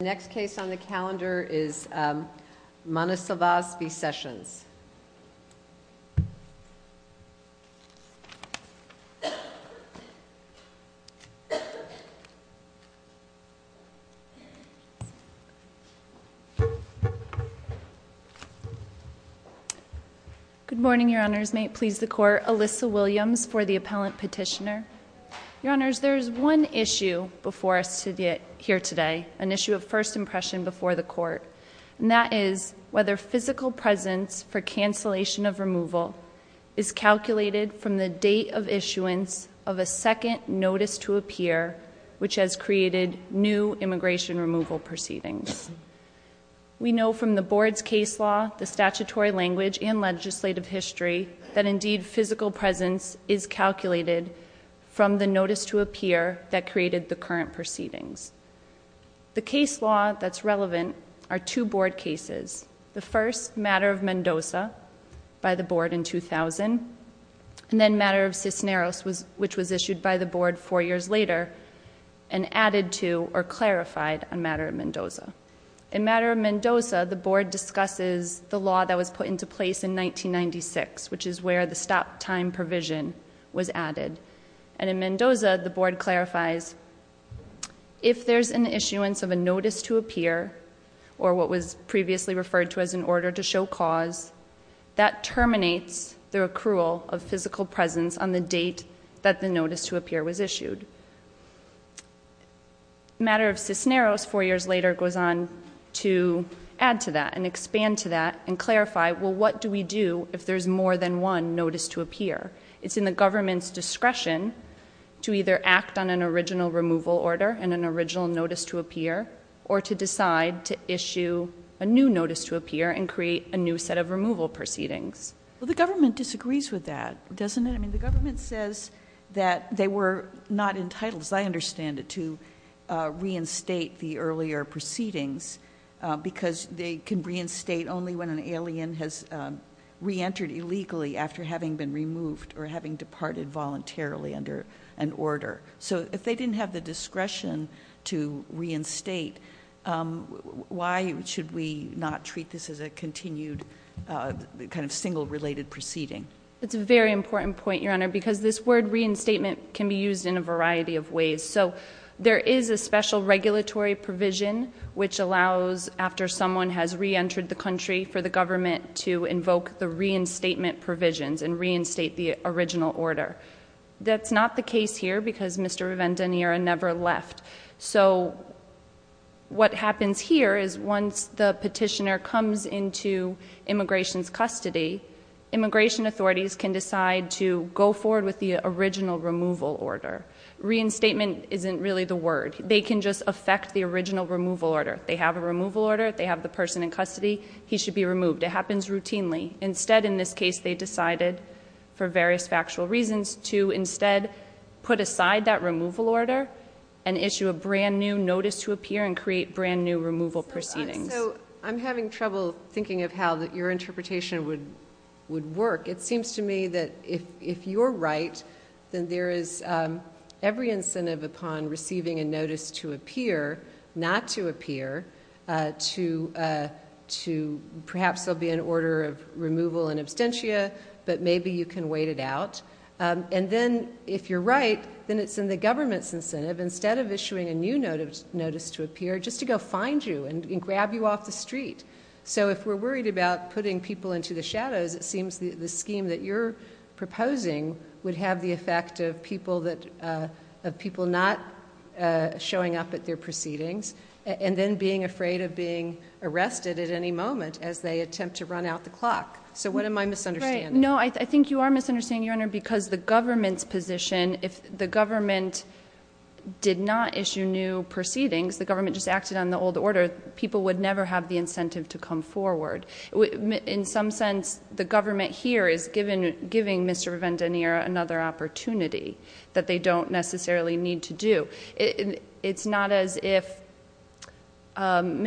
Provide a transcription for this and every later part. The next case on the calendar is Manosalvas v. Sessions. Good morning, your honors. May it please the court. Alyssa Williams for the appellant petitioner. Your honors, there is one issue before us to get here today, an issue of first impression before the court, and that is whether physical presence for cancellation of removal is calculated from the date of issuance of a second notice to appear which has created new immigration removal proceedings. We know from the board's case law, the statutory language, and legislative history that indeed physical presence is from the notice to appear that created the current proceedings. The case law that's relevant are two board cases. The first, Matter of Mendoza, by the board in 2000, and then Matter of Cisneros, which was issued by the board four years later, and added to or clarified on Matter of Mendoza. In Matter of Mendoza, the board discusses the law that was put into place in 1996, which is where the stop time provision was added. And in Mendoza, the board clarifies, if there's an issuance of a notice to appear, or what was previously referred to as an order to show cause, that terminates the accrual of physical presence on the date that the notice to appear was issued. Matter of Cisneros, four years later, goes on to add to that and expand to that and clarify, well, what do we do if there's more than one notice to appear? It's in the government's discretion to either act on an original removal order and an original notice to appear, or to decide to issue a new notice to appear and create a new set of removal proceedings. Well, the government disagrees with that, doesn't it? I mean, the government says that they were not entitled, as I understand it, to reinstate the earlier proceedings because they can reinstate only when an alien has reentered illegally after having been removed or having departed voluntarily under an order. So if they didn't have the discretion to reinstate, why should we not treat this as a continued, kind of single-related proceeding? It's a very important point, Your Honor, because this word reinstatement can be used in a variety of ways. So there is a special regulatory provision which allows, after someone has reentered the country, for the government to invoke the reinstatement provisions and reinstate the original order. That's not the case here because Mr. Riven-De Niro never left. So what happens here is once the petitioner comes into immigration's custody, immigration authorities can decide to go forward with the original removal order. Reinstatement isn't really the word. They can just affect the original removal order. They have a removal order, they have the person in custody, he should be removed. It happens routinely. Instead, in this case, they decided, for various factual reasons, to instead put aside that removal order and issue a brand-new notice to appear and create brand-new removal proceedings. So I'm having trouble thinking of how your interpretation would work. It seems to me that if you're right, then there is every incentive upon receiving a notice to appear, not to appear, to perhaps there'll be an order of removal in absentia, but maybe you can wait it out. And then, if you're right, then it's in the government's incentive, instead of issuing a new notice to appear, just to go find you and grab you off the street. So if we're worried about putting people into the shadows, it seems the scheme that you're proposing would have the effect of people not showing up at their proceedings, and then being afraid of being arrested at any moment as they attempt to run out the clock. So what am I misunderstanding? No, I think you are misunderstanding, Your Honor, because the government's position, if the government did not issue new proceedings, the government just acted on the old order, people would never have the incentive to come forward. In some sense, the government here is giving Mr. Vendaniera another opportunity that they don't necessarily need to do. It's not as if, in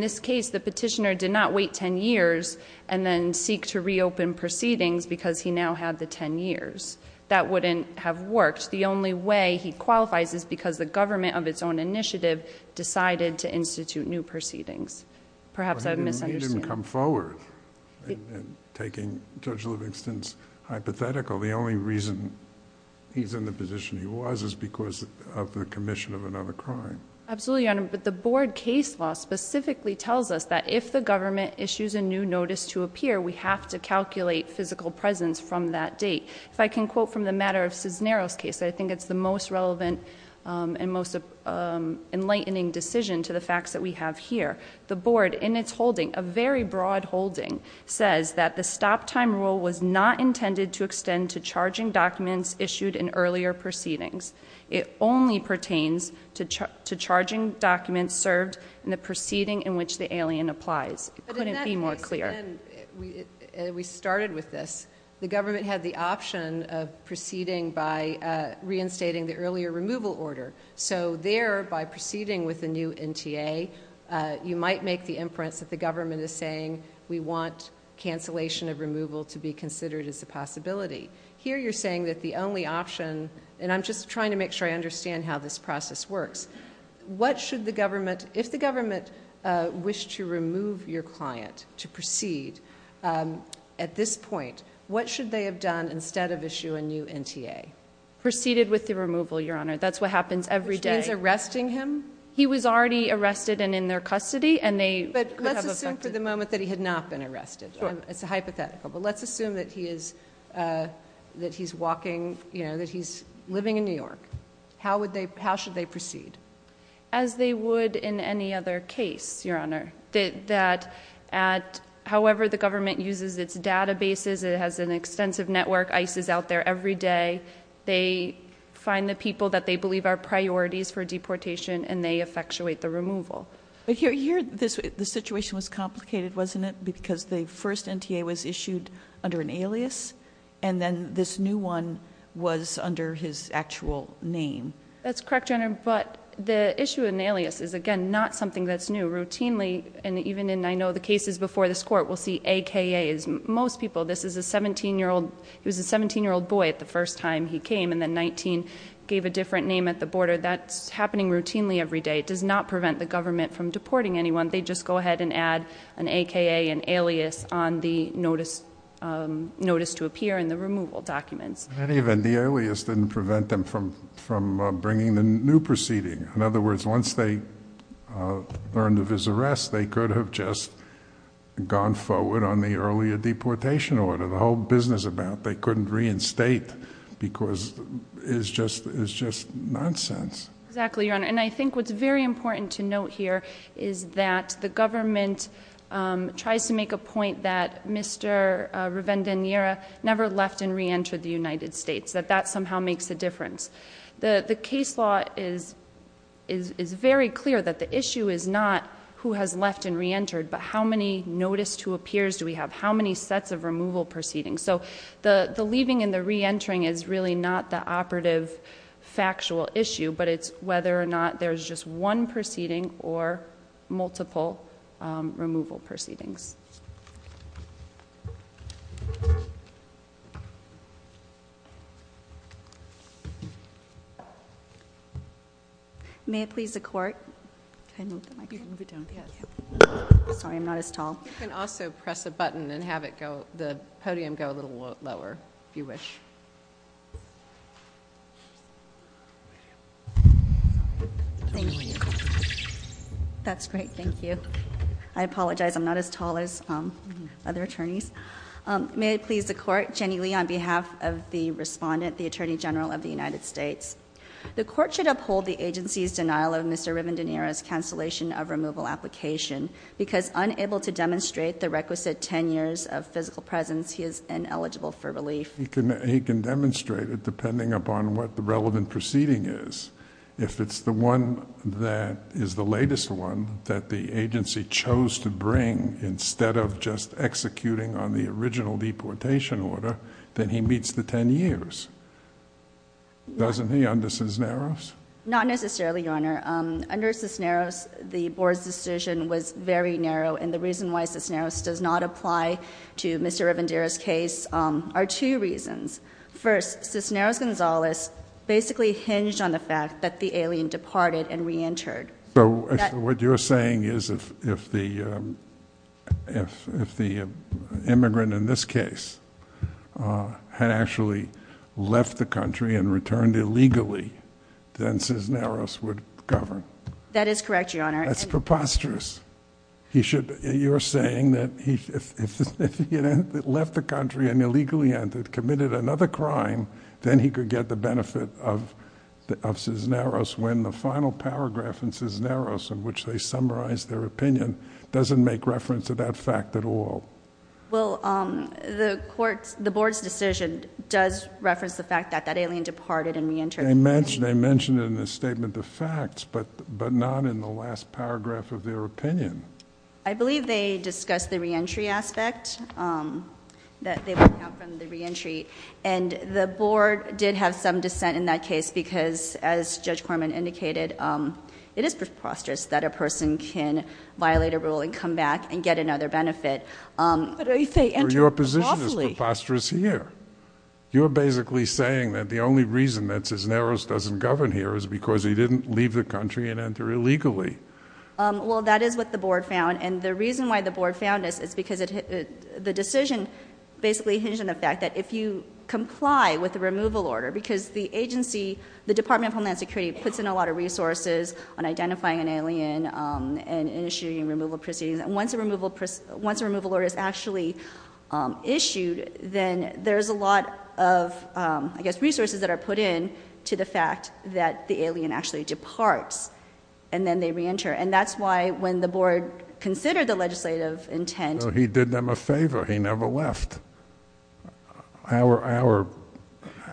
this case, the petitioner did not wait ten years and then seek to reopen proceedings because he now had the ten years. That wouldn't have worked. The only way he qualifies is because the government of its own initiative decided to institute new proceedings. Perhaps I'm misunderstanding. But he didn't come forward, taking Judge Livingston's hypothetical. The only reason he's in the position he was is because of the commission of another crime. Absolutely, Your Honor, but the board case law specifically tells us that if the government issues a new notice to appear, we have to calculate physical presence from that date. If I can quote from the matter of Cisneros case, I think it's the most relevant and most enlightening decision to the facts that we have here. The board, in its holding, a very broad holding, says that the stop time rule was not intended to extend to charging documents issued in earlier proceedings. It only pertains to charging documents served in the proceeding in which the alien applies. It couldn't be more clear. When we started with this, the government had the option of proceeding by reinstating the earlier removal order. So there, by proceeding with the new NTA, you might make the inference that the government is saying, we want cancellation of removal to be considered as a possibility. Here you're saying that the only option, and I'm just trying to make sure I understand how this process works. What should the government, if the government wished to remove your client to proceed at this point, what should they have done instead of issue a new NTA? Proceeded with the removal, Your Honor. That's what happens every day. Which means arresting him? He was already arrested and in their custody, and they- But let's assume for the moment that he had not been arrested. Sure. It's a hypothetical, but let's assume that he's walking, that he's living in New York. How should they proceed? As they would in any other case, Your Honor. However the government uses its databases, it has an extensive network, ICE is out there every day. They find the people that they believe are priorities for deportation, and they effectuate the removal. But here, the situation was complicated, wasn't it? Because the first NTA was issued under an alias, and then this new one was under his actual name. That's correct, Your Honor, but the issue of an alias is, again, not something that's new. Routinely, and even in, I know, the cases before this court, we'll see AKAs. Most people, this is a 17-year-old, he was a 17-year-old boy at the first time he came, and then 19 gave a different name at the border. That's happening routinely every day. It does not prevent the government from deporting anyone. They just go ahead and add an AKA, an alias on the notice to appear in the removal documents. And even the alias didn't prevent them from bringing the new proceeding. In other words, once they learned of his arrest, they could have just gone forward on the earlier deportation order. The whole business about they couldn't reinstate because it's just nonsense. Exactly, Your Honor, and I think what's very important to note here is that the government tries to make a point that Mr. Revendaniera never left and re-entered the United States, that that somehow makes a difference. The case law is very clear that the issue is not who has left and re-entered, but how many notice to appears do we have, how many sets of removal proceedings. So the leaving and the re-entering is really not the operative, factual issue, but it's whether or not there's just one proceeding or multiple removal proceedings. May it please the court. Can I move the mic? You can move it down. Yeah. Sorry, I'm not as tall. You can also press a button and have the podium go a little lower, if you wish. Thank you. That's great, thank you. I apologize, I'm not as tall as other attorneys. May it please the court. Jenny Lee on behalf of the respondent, the Attorney General of the United States. The court should uphold the agency's denial of Mr. Revendaniera's cancellation of removal application, because unable to demonstrate the requisite ten years of physical presence, he is ineligible for relief. He can demonstrate it depending upon what the relevant proceeding is. If it's the one that is the latest one that the agency chose to bring, instead of just executing on the original deportation order, then he meets the ten years. Doesn't he, Andres Cisneros? Not necessarily, Your Honor. Under Cisneros, the board's decision was very narrow, and the reason why Cisneros does not apply to Mr. Revendera's case are two reasons. First, Cisneros-Gonzalez basically hinged on the fact that the alien departed and re-entered. So what you're saying is if the immigrant in this case had actually left the country and returned illegally, then Cisneros would govern? That is correct, Your Honor. That's preposterous. You're saying that if he had left the country and illegally entered, committed another crime, then he could get the benefit of Cisneros, when the final paragraph in Cisneros in which they summarize their opinion doesn't make reference to that fact at all. Well, the board's decision does reference the fact that that alien departed and re-entered. They mentioned it in the statement of facts, but not in the last paragraph of their opinion. I believe they discussed the re-entry aspect, that they were out from the re-entry. And the board did have some dissent in that case because, as Judge Corman indicated, it is preposterous that a person can violate a rule and come back and get another benefit. But if they enter lawfully- Your position is preposterous here. You're basically saying that the only reason that Cisneros doesn't govern here is because he didn't leave the country and enter illegally. Well, that is what the board found. And the reason why the board found this is because the decision basically hinged on the fact that if you comply with the removal order, because the agency, the Department of Homeland Security, puts in a lot of resources on identifying an alien and issuing removal proceedings. And once a removal order is actually issued, then there's a lot of, I guess, resources that are put in to the fact that the alien actually departs, and then they re-enter. And that's why, when the board considered the legislative intent- He did them a favor. He never left. Our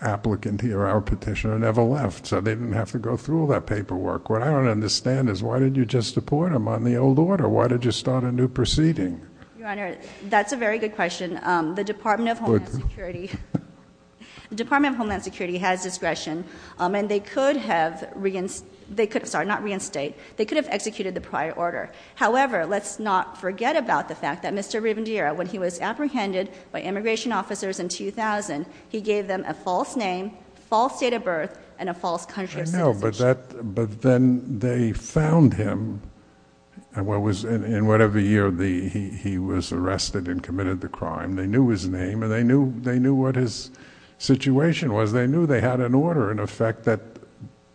applicant here, our petitioner, never left, so they didn't have to go through all that paperwork. What I don't understand is, why did you just deport him on the old order? Or why did you start a new proceeding? Your Honor, that's a very good question. The Department of Homeland Security has discretion, and they could have, sorry, not reinstate, they could have executed the prior order. However, let's not forget about the fact that Mr. Rivendera, when he was apprehended by immigration officers in 2000, he gave them a false name, false date of birth, and a false country of citizenship. I know, but then they found him, and what was, in whatever year he was arrested and committed the crime, they knew his name, and they knew what his situation was, they knew they had an order, in effect,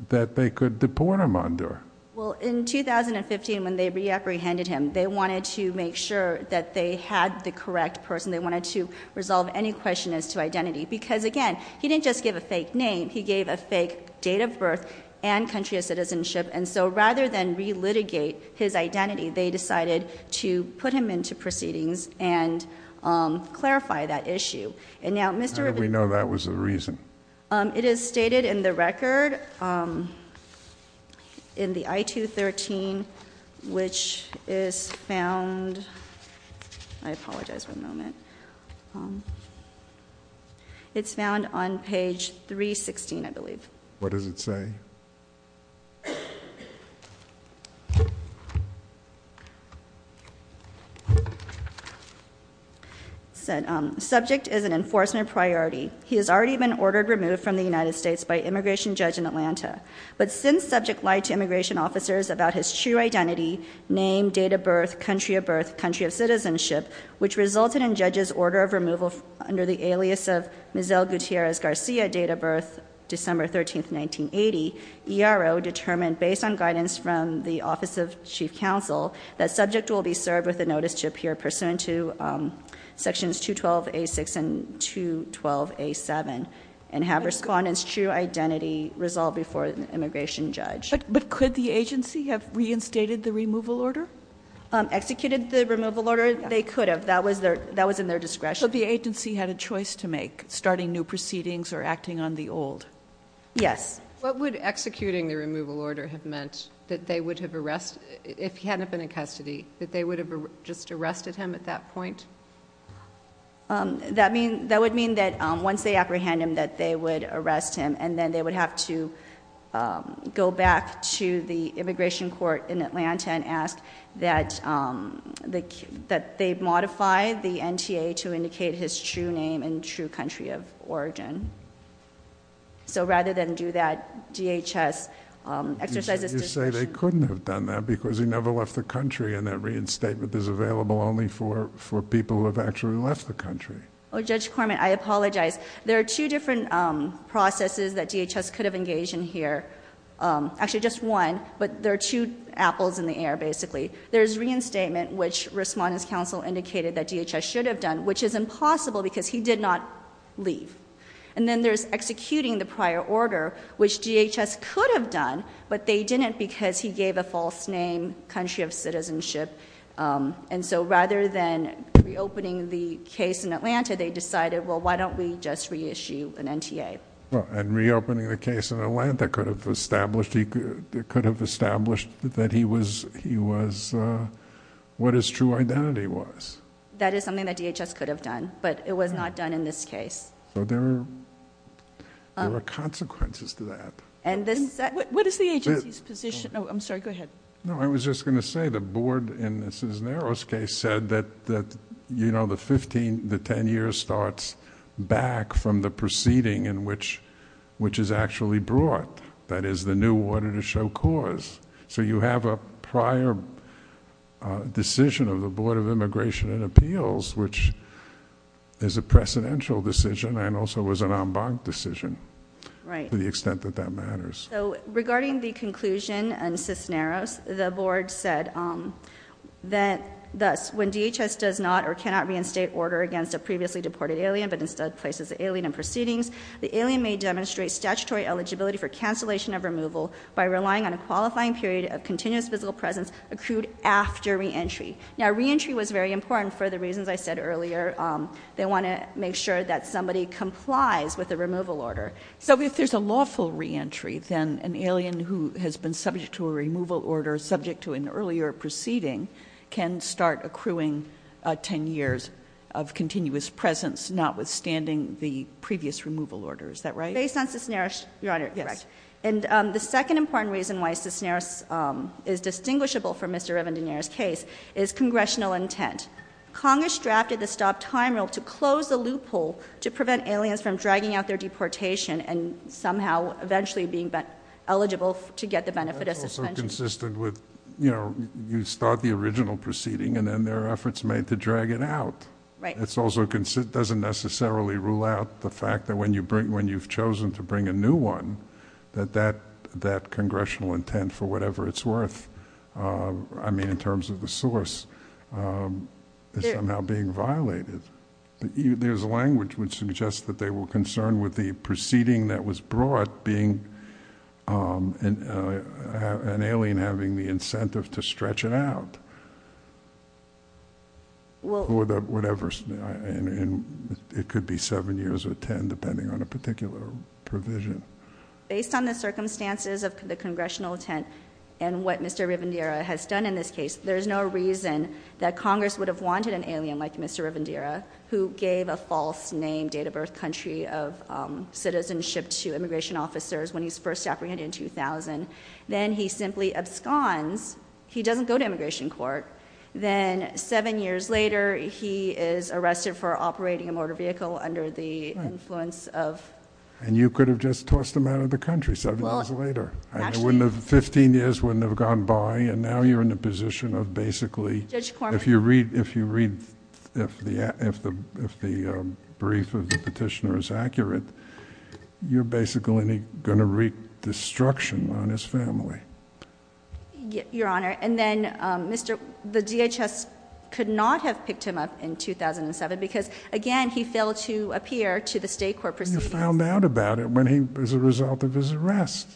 that they could deport him under. Well, in 2015, when they re-apprehended him, they wanted to make sure that they had the correct person. They wanted to resolve any question as to identity, because again, he didn't just give a fake name. He gave a fake date of birth and country of citizenship. And so, rather than re-litigate his identity, they decided to put him into proceedings and clarify that issue. And now, Mr- How did we know that was the reason? It is stated in the record, in the I-213, which is found, I apologize for a moment. It's found on page 316, I believe. What does it say? It said, subject is an enforcement priority. He has already been ordered removed from the United States by immigration judge in Atlanta. But since subject lied to immigration officers about his true identity, name, date of birth, country of birth, country of citizenship, which resulted in judge's order of removal under the alias of Mizel Gutierrez Garcia, date of birth, December 13th, 1980. ERO determined, based on guidance from the Office of Chief Counsel, that subject will be served with a notice to appear pursuant to sections 212A6 and 212A7, and have respondent's true identity resolved before an immigration judge. But could the agency have reinstated the removal order? Executed the removal order? They could have. That was in their discretion. But the agency had a choice to make, starting new proceedings or acting on the old. Yes. What would executing the removal order have meant? That they would have arrested, if he hadn't been in custody, that they would have just arrested him at that point? That would mean that once they apprehend him, that they would arrest him, and then they would have to go back to the immigration court in Atlanta and ask that they modify the NTA to indicate his true name and true country of origin. So rather than do that, DHS exercises discretion. You say they couldn't have done that because he never left the country, and that reinstatement is available only for people who have actually left the country. Judge Corman, I apologize. There are two different processes that DHS could have engaged in here. Actually, just one, but there are two apples in the air, basically. There's reinstatement, which respondent's counsel indicated that DHS should have done, which is impossible because he did not leave. And then there's executing the prior order, which DHS could have done, but they didn't because he gave a false name, country of citizenship. And so rather than reopening the case in Atlanta, they decided, well, why don't we just reissue an NTA? And reopening the case in Atlanta could have established that he was what his true identity was. That is something that DHS could have done, but it was not done in this case. So there are consequences to that. And this- What is the agency's position? No, I'm sorry, go ahead. No, I was just going to say the board in the Cisneros case said that the 10 years starts back from the proceeding in which is actually brought, that is the new order to show cause. So you have a prior decision of the Board of Immigration and Appeals, which is a precedential decision and also was an en banc decision. Right. To the extent that that matters. So regarding the conclusion in Cisneros, the board said that thus, when DHS does not or cannot reinstate order against a previously deported alien, but instead places the alien in proceedings, the alien may demonstrate statutory eligibility for cancellation of removal by relying on a qualifying period of continuous physical presence accrued after reentry. Now, reentry was very important for the reasons I said earlier. They want to make sure that somebody complies with the removal order. So if there's a lawful reentry, then an alien who has been subject to a removal order, subject to an earlier proceeding, can start accruing 10 years of continuous presence, notwithstanding the previous removal order, is that right? Based on Cisneros, Your Honor, correct. And the second important reason why Cisneros is distinguishable from Mr. Revendanier's case is congressional intent. Congress drafted the stop time rule to close the loophole to prevent aliens from dragging out their deportation and somehow eventually being eligible to get the benefit of suspension. That's also consistent with, you know, you start the original proceeding and then there are efforts made to drag it out. Right. It also doesn't necessarily rule out the fact that when you've chosen to bring a new one, that that congressional intent, for whatever it's worth, I mean in terms of the source, is somehow being violated. There's language which suggests that they were concerned with the proceeding that was brought, being an alien having the incentive to stretch it out. For whatever, it could be seven years or ten, depending on a particular provision. Based on the circumstances of the congressional intent and what Mr. Revendanier would have wanted an alien like Mr. Revendanier, who gave a false name, date of birth, country of citizenship to immigration officers when he was first apprehended in 2000. Then he simply absconds, he doesn't go to immigration court. Then seven years later, he is arrested for operating a motor vehicle under the influence of. And you could have just tossed him out of the country seven years later. Actually. 15 years wouldn't have gone by and now you're in the position of basically. Judge Corman. If you read, if the brief of the petitioner is accurate, you're basically going to wreak destruction on his family. Your Honor, and then the DHS could not have picked him up in 2007 because again, he failed to appear to the state court proceedings. You found out about it when he, as a result of his arrest.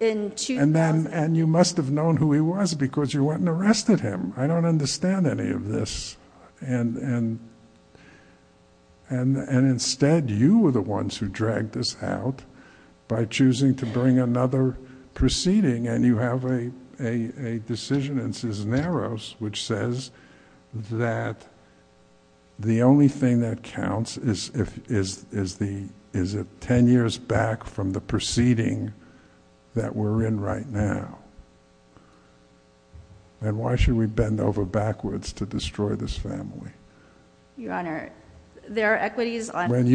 And you must have known who he was because you went and arrested him. I don't understand any of this. And instead, you were the ones who dragged us out by choosing to bring another proceeding, and you have a decision in Cisneros, which says that the only thing that counts is if 10 years back from the proceeding that we're in right now. And why should we bend over backwards to destroy this family? Your Honor, there are equities on. When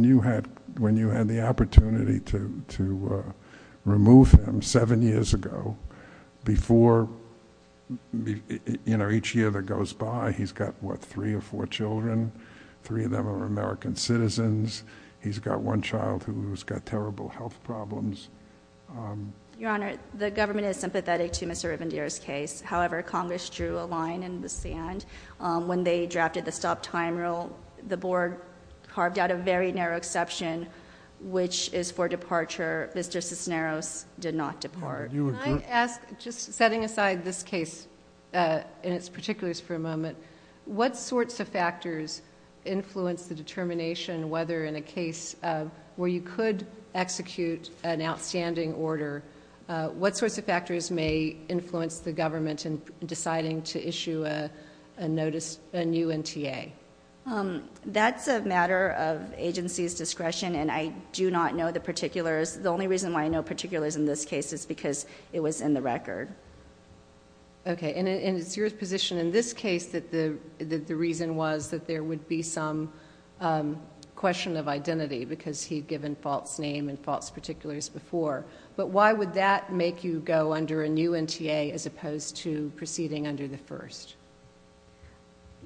you had the opportunity to remove him seven years ago. Before, each year that goes by, he's got what, three or four children? Three of them are American citizens. He's got one child who's got terrible health problems. Your Honor, the government is sympathetic to Mr. Rivendare's case. However, Congress drew a line in the sand when they drafted the stop time rule. The board carved out a very narrow exception, which is for departure. Mr. Cisneros did not depart. Can I ask, just setting aside this case in its particulars for a moment. What sorts of factors influence the determination whether in a case where you could execute an outstanding order, what sorts of factors may influence the government in deciding to issue a notice, a new NTA? That's a matter of agency's discretion, and I do not know the particulars. The only reason why I know particulars in this case is because it was in the record. Okay. And it's your position in this case that the reason was that there would be some question of identity because he'd given false name and false particulars before. But why would that make you go under a new NTA as opposed to proceeding under the first,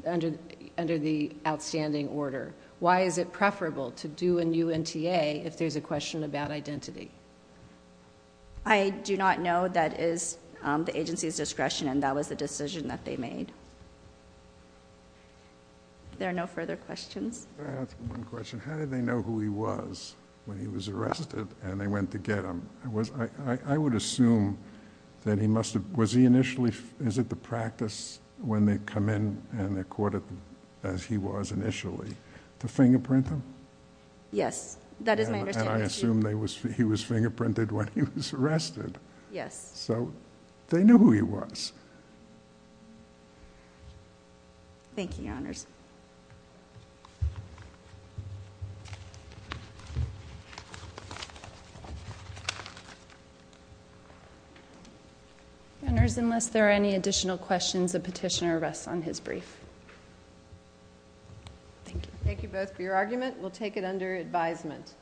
under the outstanding order? Why is it preferable to do a new NTA if there's a question about identity? I do not know that is the agency's discretion, and that was the decision that they made. Thank you. There are no further questions. Can I ask one question? How did they know who he was when he was arrested and they went to get him? I would assume that he must have... was he initially... is it the practice when they come in and they're caught as he was initially to fingerprint him? Yes. That is my understanding. And I assume he was fingerprinted when he was arrested. Yes. So they knew who he was. Thank you, Your Honors. Your Honors, unless there are any additional questions, the petitioner rests on his brief. Thank you. Thank you both for your argument. We'll take it under advisement.